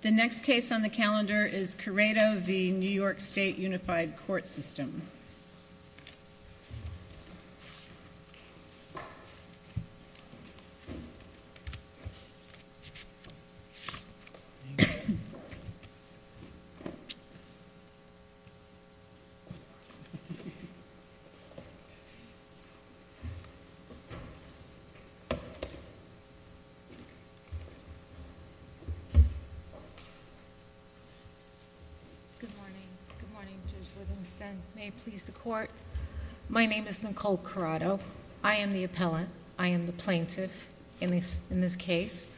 The next case on the calendar is Corrado v. New York State Unified Court System. Good morning. Good morning, Judge Livingston. May it please the court. My name is Nicole Corrado. I am the appellant. I am the plaintiff in this case.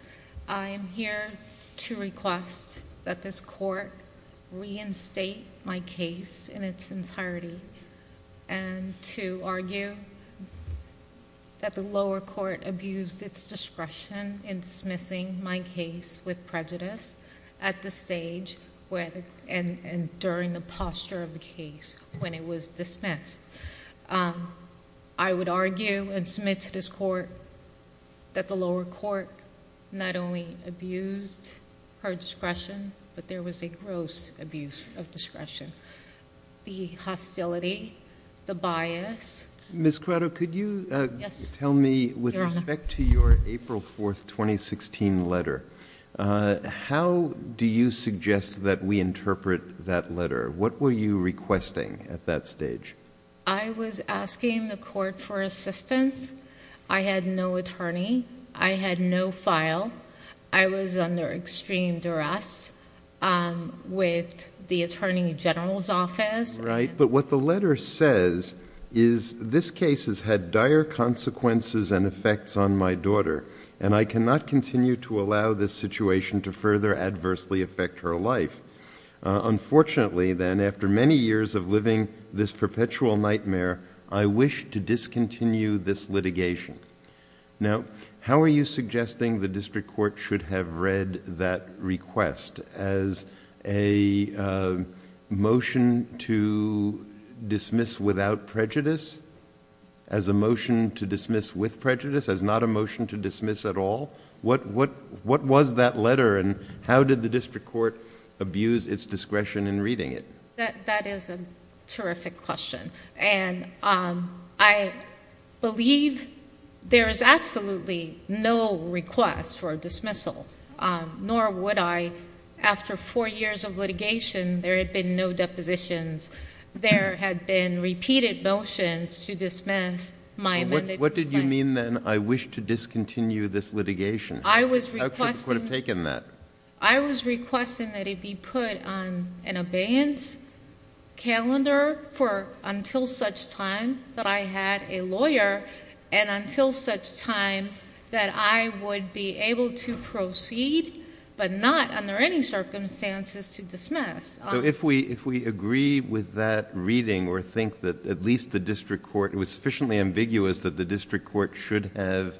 I am here to request that this court reinstate my case in its entirety and to argue that the lower court abused its discretion in dismissing my case with prejudice at the stage and during the posture of the case when it was dismissed. I would argue and submit to this court that the lower court not only abused her discretion, but there was a gross abuse of discretion. The hostility, the bias— Ms. Corrado, could you— Yes, Your Honor. With respect to your April 4, 2016 letter, how do you suggest that we interpret that letter? What were you requesting at that stage? I was asking the court for assistance. I had no attorney. I had no file. I was under extreme Right. But what the letter says is, this case has had dire consequences and effects on my daughter, and I cannot continue to allow this situation to further adversely affect her life. Unfortunately then, after many years of living this perpetual nightmare, I wish to discontinue this litigation. Now, how are you suggesting the district court should have read that request as a motion to dismiss without prejudice, as a motion to dismiss with prejudice, as not a motion to dismiss at all? What was that letter, and how did the district court abuse its discretion in reading it? That is a terrific question, and I believe there is absolutely no request for a dismissal, nor would I. After four years of litigation, there had been no depositions. There had been repeated motions to dismiss my amended complaint. What did you mean then, I wish to discontinue this litigation? I was requesting— How could the court have taken that? I was requesting that it be put on an abeyance calendar until such time that I had a lawyer, and until such time that I would be able to proceed, but not under any circumstances to dismiss. If we agree with that reading, or think that at least the district court... it was sufficiently ambiguous that the district court should have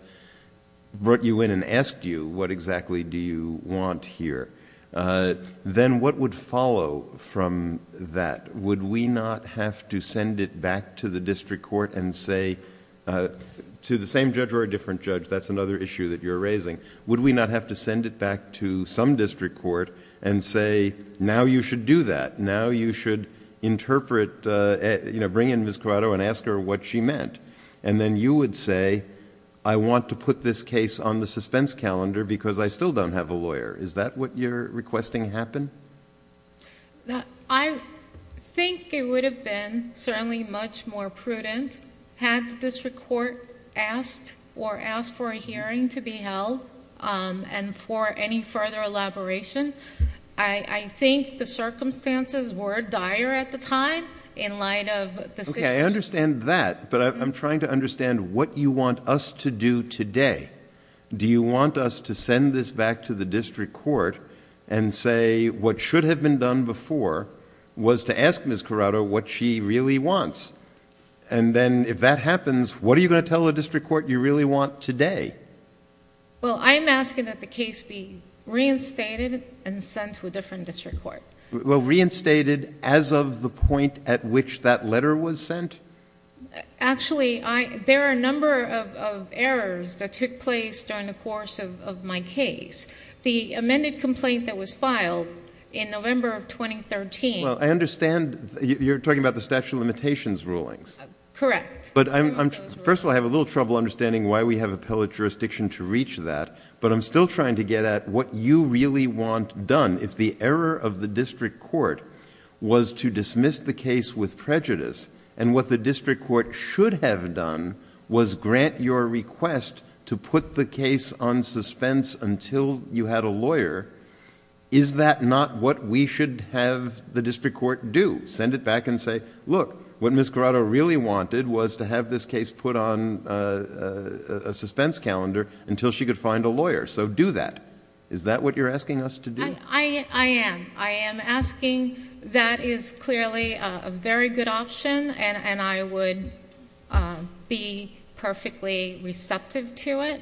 brought you in and asked you, what exactly do you want here? Then what would follow from that? Would we not have to send it back to the district court and say, to the same judge or a different judge, that's another issue that you're raising. Would we not have to send it back to some district court and say, now you should do that. Now you should interpret... bring in Ms. Corrado and ask her what she meant, and then you would say, I want to put this case on the suspense calendar because I still don't have a lawyer. Is that what you're requesting happen? I think it would have been certainly much more prudent had the district court asked or asked for a hearing to be held and for any further elaboration. I think the circumstances were dire at the time in light of the situation. Okay, I understand that, but I'm trying to understand what you want us to do today. Do you want us to send this back to the district court and say, what should have been done before was to ask Ms. Corrado what she really wants? Then if that happens, what are you going to tell the district court you really want today? Well, I'm asking that the case be reinstated and sent to a different district court. Well, reinstated as of the point at which that letter was sent? Actually, there are a number of errors that took place during the course of my case. The amended complaint that was filed in November of 2013... Well, I understand you're talking about the statute of limitations rulings. Correct. First of all, I have a little trouble understanding why we have appellate jurisdiction to reach that, but I'm still trying to get at what you really want done if the error of the district court was to dismiss the case with prejudice and what the district court should have done was grant your request to put the case on suspense until you had a lawyer. Is that not what we should have the district court do? Send it back and say, look, what Ms. Corrado really wanted was to have this case put on a suspense calendar until she could find a lawyer. Do that. Is that what you're asking us to do? I am. I am asking. That is clearly a very good option and I would be perfectly receptive to it.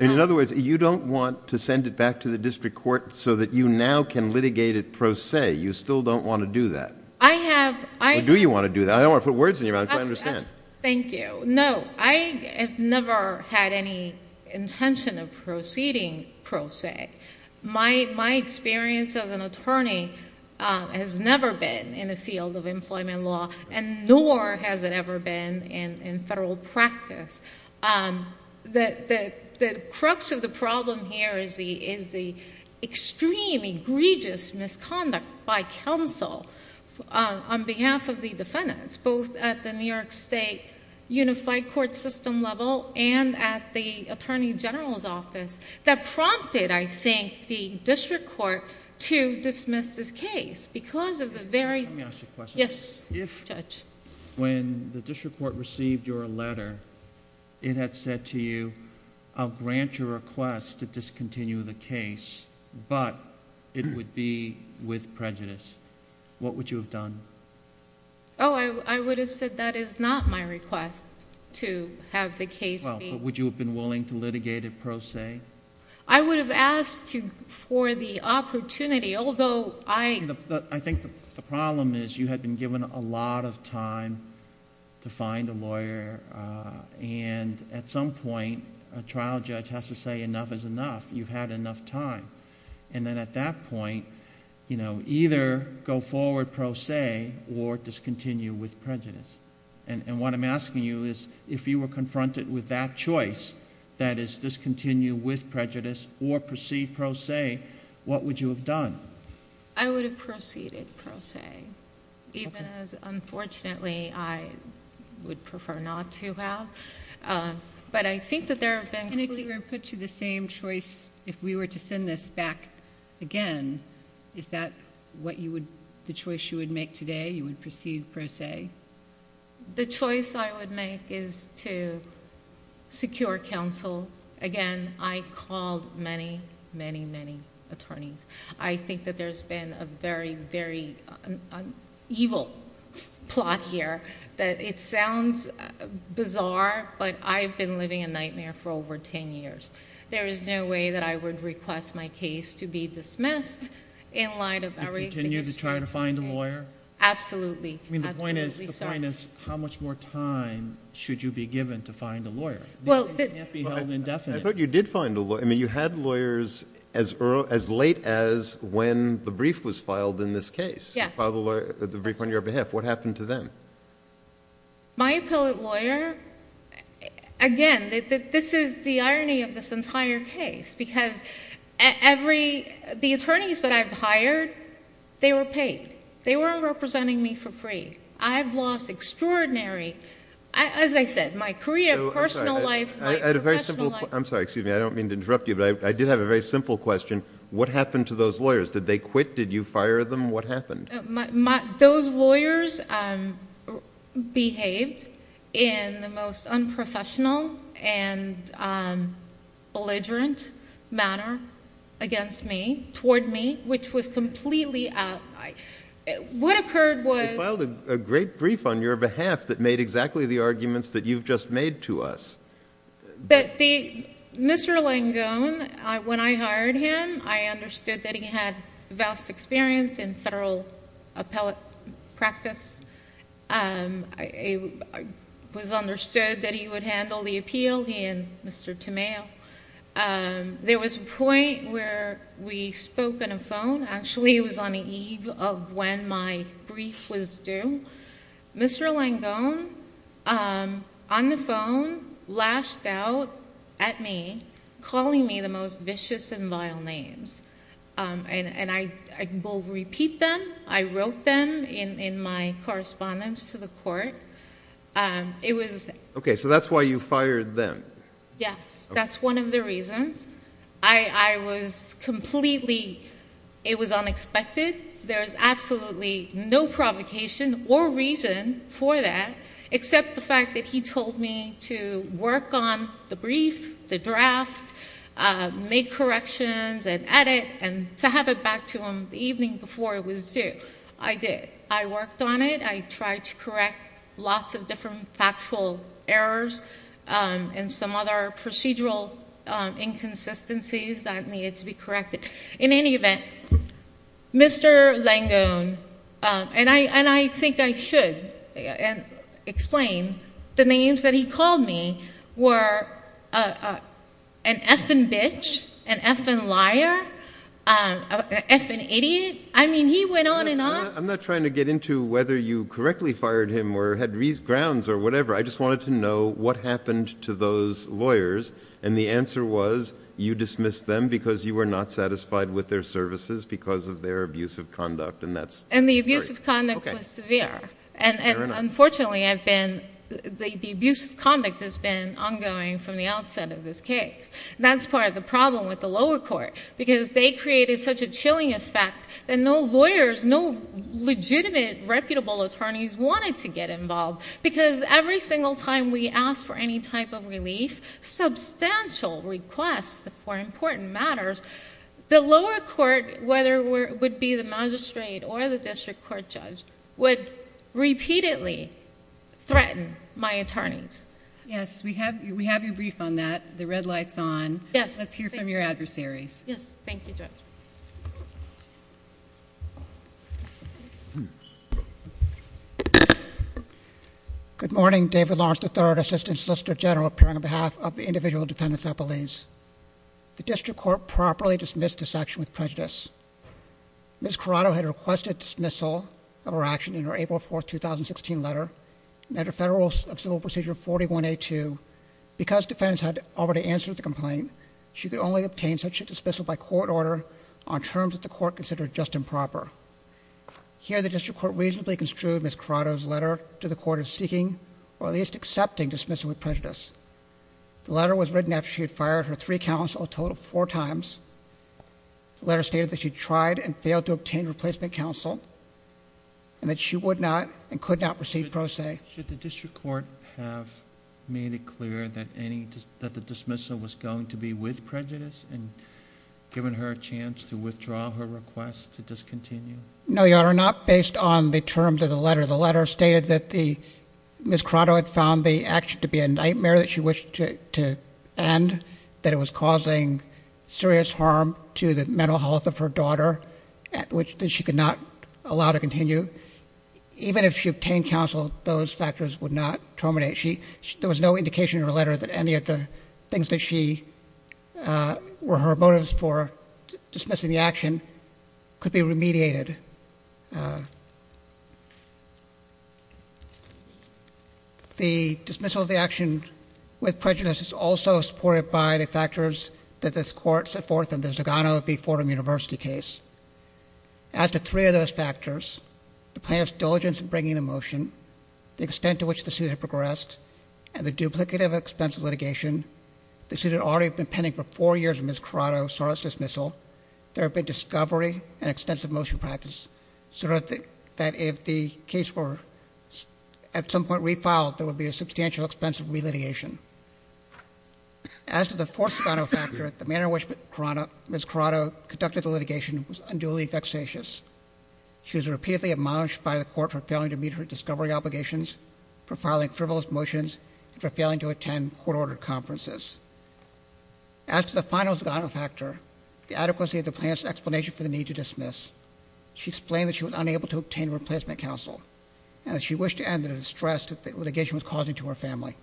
In other words, you don't want to send it back to the district court so that you now can litigate it pro se. You still don't want to do that? I have... Or do you want to do that? I don't want to put words in your mouth. I understand. Thank you. No, I have never had any intention of proceeding pro se. My experience as an attorney has never been in the field of employment law and nor has it ever been in federal practice. The crux of the problem here is the extreme egregious misconduct by counsel on behalf of the defendants, both at the New York State Unified Court System level and at the Attorney General's office that prompted, I think, the district court to dismiss this case because of the very... Let me ask you a question. Yes, Judge. When the district court received your letter, it had said to you, I'll grant your request to discontinue the case, but it would be with prejudice. What would you have done? Oh, I would have said that is not my request to have the case be... Well, would you have been willing to litigate it pro se? I would have asked for the opportunity, although I... I think the problem is you had been given a lot of time to find a lawyer and at some point, a trial judge has to say enough is enough. You've had enough time. At that point, either go forward pro se or discontinue with prejudice. What I'm asking you is, if you were confronted with that choice, that is discontinue with prejudice or proceed pro se, what would you have done? I would have proceeded pro se, even as, unfortunately, I would prefer not to have, but I think that there have been... If you were put to the same choice, if we were to send this back again, is that the choice you would make today? You would proceed pro se? The choice I would make is to secure counsel. Again, I called many, many, many attorneys. I think that there's been a very, very evil plot here. It sounds bizarre, but I've been living a nightmare for over ten years. There is no way that I would request my case to be dismissed in light of... You'd continue to try to find a lawyer? Absolutely. The point is, how much more time should you be given to find a lawyer? These things can't be held indefinite. I thought you did find a lawyer. You had lawyers as late as when the brief was filed in this case. Yes. You did file the brief on your behalf. What happened to them? My appellate lawyer... Again, this is the irony of this entire case, because the attorneys that I've hired, they were paid. They weren't representing me for free. I've lost extraordinary... As I said, my career, personal life... I'm sorry. I don't mean to interrupt you, but I did have a very simple question. What happened to those lawyers? Did they quit? Did you fire them? What happened? Those lawyers behaved in the most unprofessional and belligerent manner against me, toward me, which was completely... What occurred was... You filed a great brief on your behalf that made exactly the arguments that you've just made to us. Mr. Langone, when I hired him, I understood that he had vast experience in federal appellate practice. It was understood that he would handle the appeal, he and Mr. Tamao. There was a point where we spoke on a phone. Actually, it was on the eve of when my brief was due. Mr. Langone, on the other hand, flashed out at me, calling me the most vicious and vile names. I will repeat them. I wrote them in my correspondence to the court. It was... Okay, so that's why you fired them. Yes. That's one of the reasons. I was completely... It was unexpected. There's absolutely no provocation or reason for that, except the fact that he told me to work on the brief, the draft, make corrections and edit, and to have it back to him the evening before it was due. I did. I worked on it. I tried to correct lots of different factual errors and some other procedural inconsistencies that needed to be corrected. In any event, Mr. Langone, and I think I should explain, the names that he called me were an effing bitch, an effing liar, an effing idiot. I mean, he went on and on. I'm not trying to get into whether you correctly fired him or had grounds or whatever. I just wanted to know what happened to those lawyers. The answer was, you dismissed them because you were not satisfied with their services because of their abusive conduct, and that's... Okay. The abusive conduct was severe. Fair enough. Unfortunately, I've been... The abusive conduct has been ongoing from the outset of this case. That's part of the problem with the lower court, because they created such a chilling effect that no lawyers, no legitimate reputable attorneys wanted to get involved, because every single time we asked for any type of relief, substantial requests for important matters, the lower court, whether it would be the magistrate or the district court judge, would repeatedly threaten my attorneys. Yes. We have you briefed on that. The red light's on. Yes. Let's hear from your adversaries. Yes. Thank you, Judge. Good morning. David Lawrence, III, Assistant Solicitor General, appearing on behalf of the individual defendants at Belize. The district court properly dismissed this action with prejudice. Ms. Corrado had requested dismissal of her action in her April 4, 2016, letter. Under Federal Civil Procedure 41A2, because defendants had already answered the complaint, she could only obtain such a dismissal by court order on terms that the court considered just improper. Here, the district court reasonably construed Ms. Corrado's letter to the court of seeking, or at least accepting, dismissal with prejudice. The letter was written after she had fired her three counsel a total of four times. The letter stated that she tried and failed to obtain replacement counsel, and that she would not and could not receive pro se. Should the district court have made it clear that the dismissal was going to be with prejudice and given her a chance to withdraw her request to discontinue? No, Your Honor, not based on the terms of the letter. The letter stated that Ms. Corrado had found the action to be a nightmare that she wished to end, that it was causing serious harm to the mental health of her daughter, which she could not allow to continue. Even if she obtained counsel, those factors would not terminate. There was no indication in her letter that any of the things that she, uh, were her motives for dismissing the action could be remediated. Uh, the dismissal of the action with prejudice is also supported by the factors that this court set forth in the Zagano v. Fordham University case. As to three of those factors, the plaintiff's diligence in bringing the motion, the extent to which the suit had progressed, and the duplicative expense of litigation, the suit had already been pending for four years when Ms. Corrado sought its dismissal. There had been discovery and extensive motion practice, so that if the case were at some point refiled, there would be a substantial expense of relitigation. As to the fourth Zagano factor, the manner in which Ms. Corrado conducted the litigation was unduly vexatious. She was repeatedly admonished by the court for failing to meet her discovery obligations, for filing frivolous motions, and for failing to attend court-ordered conferences. As to the final Zagano factor, the adequacy of the plaintiff's explanation for the need to dismiss, she explained that she was unable to obtain a replacement counsel, and that she wished to end the distress that the litigation was causing to her family.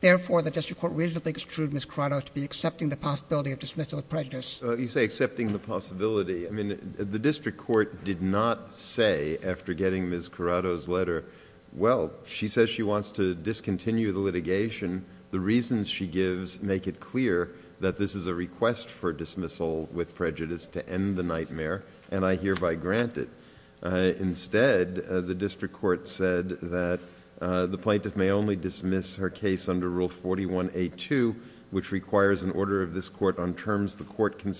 Therefore, the district court reasonably extruded Ms. Corrado to be accepting the possibility of dismissal with prejudice. You say accepting the possibility. I mean, the district court did not say, after getting Ms. Corrado's letter, well, she says she wants to discontinue the litigation. The reasons she gives make it clear that this is a request for dismissal with prejudice to end the nightmare, and I hereby grant it. Instead, the district court said that the plaintiff may only dismiss her case under Rule 41A2, which requires an order of this court on terms the court in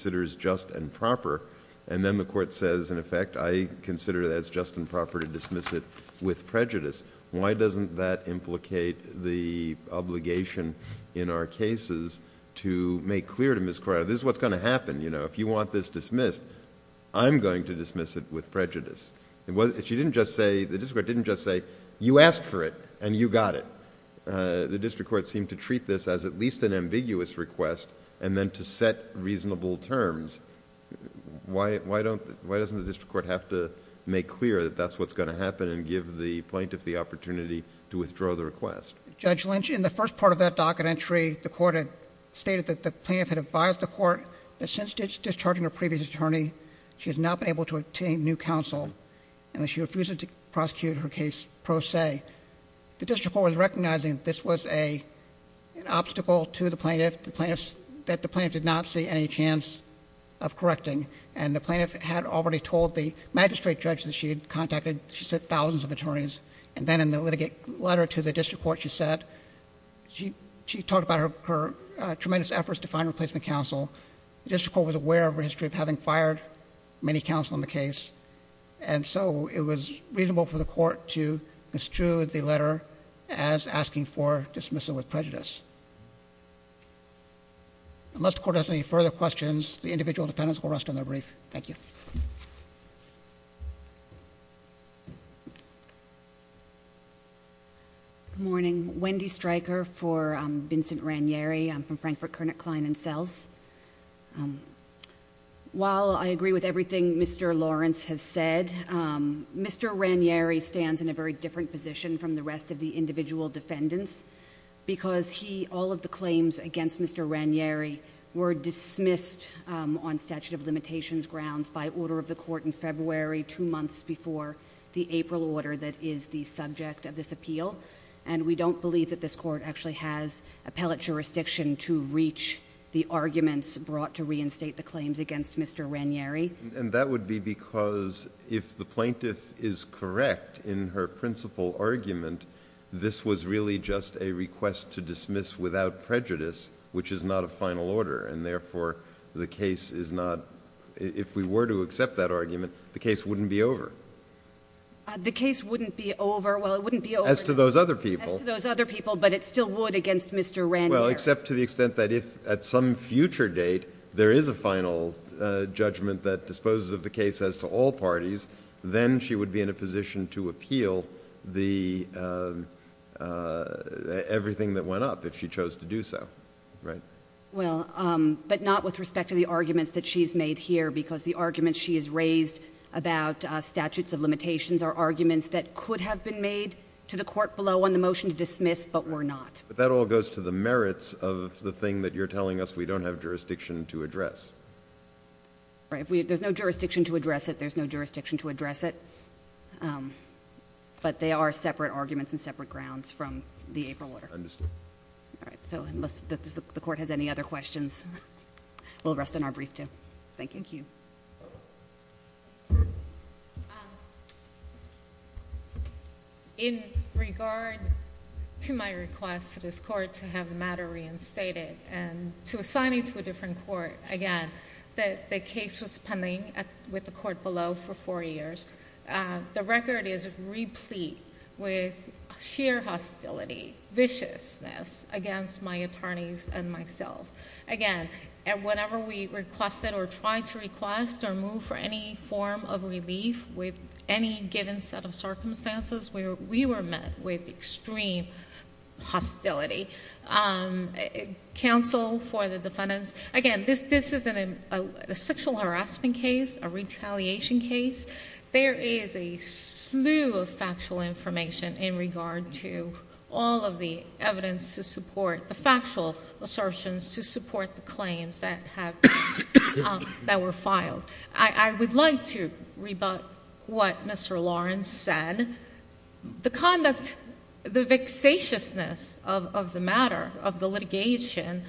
effect. I consider that it's just and proper to dismiss it with prejudice. Why doesn't that implicate the obligation in our cases to make clear to Ms. Corrado, this is what's going to happen. If you want this dismissed, I'm going to dismiss it with prejudice. The district court didn't just say, you asked for it, and you got it. The district court seemed to treat this as at least an ambiguous request, and then to set reasonable terms. Why doesn't the district court have to make clear that that's what's going to happen, and give the plaintiff the opportunity to withdraw the request? Judge Lynch, in the first part of that docket entry, the court had stated that the plaintiff had advised the court that since discharging her previous attorney, she has not been able to obtain new counsel, and that she refused to prosecute her case pro se. The district court was recognizing this was an obstacle to the plaintiff, that the plaintiff did not see any chance of correcting, and the plaintiff had already told the magistrate judge that she had contacted, she said, thousands of attorneys, and then in the litigate letter to the district court, she said, she talked about her tremendous efforts to find replacement counsel. The district court was aware of her history of having fired many counsel in the case, and so it was reasonable for the court to construe the letter as asking for dismissal with prejudice. Unless the court has any further questions, the individual defendants will rest on their brief. Thank you. Good morning. Wendy Stryker for Vincent Ranieri. I'm from Frankfurt, Kernick, Klein & Selz. While I agree with everything Mr. Lawrence has said, Mr. Ranieri stands in a very different position from the rest of the individual defendants, because he, all of the claims against Mr. Ranieri were dismissed on statute of limitations grounds by order of the court in February, two months before the April order that is the subject of this appeal, and we don't believe that this court actually has appellate jurisdiction to reach the arguments brought to reinstate the claims against Mr. Ranieri. And that would be because if the plaintiff is correct in her principal argument, this was really just a request to dismiss without prejudice, which is not a final order, and therefore the case is not, if we were to accept that argument, the case wouldn't be over. The case wouldn't be over? Well, it wouldn't be over. As to those other people. As to those other people, but it still would against Mr. Ranieri. Well, except to the extent that if, at some future date, there is a final judgment that disposes of the case as to all parties, then she would be in a position to appeal the, everything that went up if she chose to do so, right? Well, but not with respect to the arguments that she's made here, because the arguments she has raised about statutes of limitations are arguments that could have been made to the court below on the motion to dismiss, but were not. But that all goes to the merits of the thing that you're telling us we don't have jurisdiction to address. There's no jurisdiction to address it, there's no jurisdiction to address it, but they are separate arguments and any other questions, we'll rest on our brief, too. Thank you. In regard to my request to this court to have the matter reinstated and to assign it to a different court, again, that the case was pending with the court below for four years. The record is replete with sheer hostility, viciousness against my attorneys and myself. Again, whenever we requested or tried to request or move for any form of relief with any given set of circumstances, we were met with extreme hostility. Counsel for the defendants, again, this isn't a sexual harassment case, a retaliation case. There is a slew of factual information in regard to all of the evidence to support the factual assertions, to support the claims that were filed. I would like to rebut what Mr. Lawrence said. The conduct, the vexatiousness of the matter of the litigation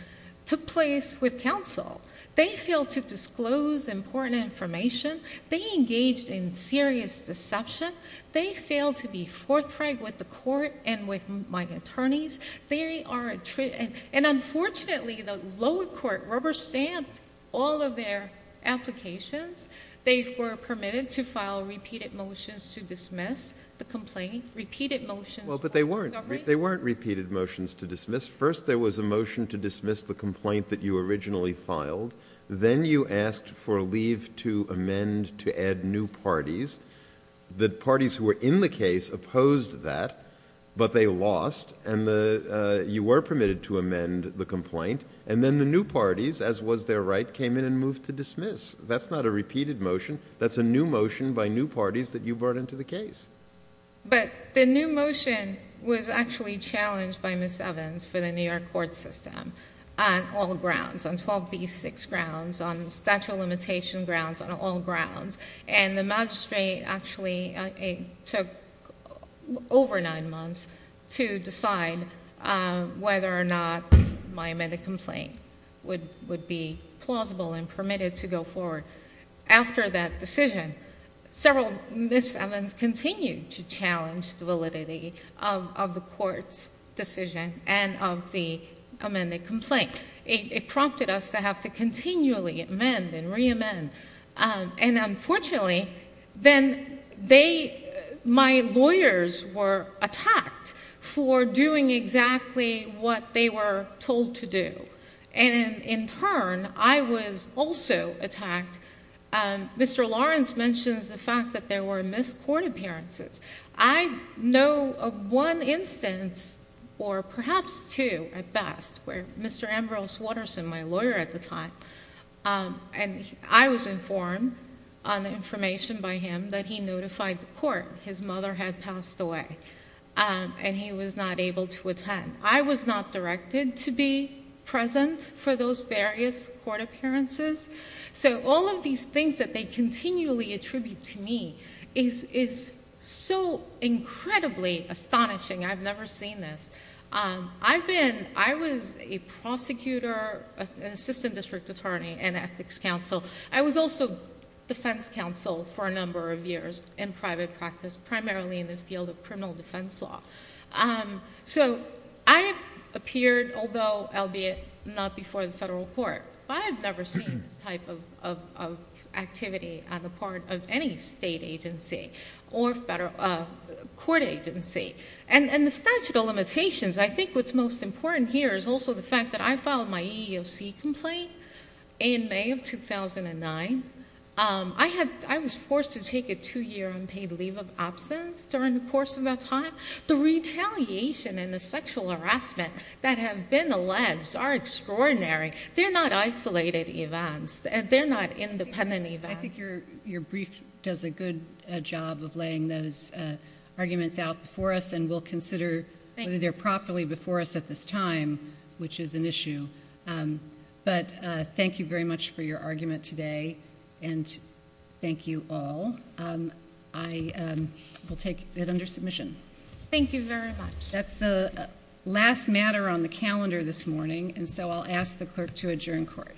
took place with counsel. They failed to disclose important information. They engaged in serious deception. They failed to be forthright with the court and with my attorneys. Unfortunately, the lower court rubber-stamped all of their applications. They were permitted to file repeated motions to dismiss the complaint, repeated motions... Well, but they weren't repeated motions to dismiss. First, there was a motion to dismiss the complaint that you originally filed. Then you asked for leave to amend to add new parties. The parties who were in the case opposed that, but they lost. You were permitted to amend the complaint. Then the new parties, as was their right, came in and moved to dismiss. That's not a repeated motion. That's a new motion by new parties that you brought into the case. But the new motion was actually challenged by Ms. Evans for the New York court system on all grounds, on 12B6 grounds, on statute of limitation grounds, on all grounds. The magistrate actually took over nine months to decide whether or not my amended complaint would be plausible and permitted to go forward. After that decision, several Ms. Evans continued to challenge the validity of the court's decision and of the amended complaint. It prompted us to have to continually amend and re-amend. Unfortunately, then my lawyers were attacked for doing exactly what they were told to do. In turn, I was also attacked. Mr. Lawrence mentions the fact that there were missed court appearances. I know of one instance, or perhaps two at best, where Mr. Ambrose Watterson, my lawyer at the time, and I was informed on the information by him that he notified the court his mother had passed away and he was not able to attend. I was not directed to be present for those various court appearances. All of these things that they continually attribute to me is so incredibly astonishing. I've never seen this. I was a prosecutor, an assistant district attorney and ethics counsel. I was also defense counsel for a number of years in private practice, primarily in the field of criminal defense law. I have appeared, although albeit not before the federal court, but I have never seen this type of activity on the part of any state agency or court agency. The statute of limitations, I think what's most important here is also the fact that I filed my EEOC complaint in May of 2009. I was forced to take a two-year unpaid leave of absence during the course of that time. The retaliation and the sexual harassment that have been alleged are extraordinary. They're not isolated events. They're not independent events. I think your brief does a good job of laying those arguments out before us and we'll consider whether they're properly before us at this time, which is an issue. Thank you very much for your argument today and thank you all. I will take it under submission. Thank you very much. That's the last matter on the calendar this morning and so I'll ask the clerk to adjourn court.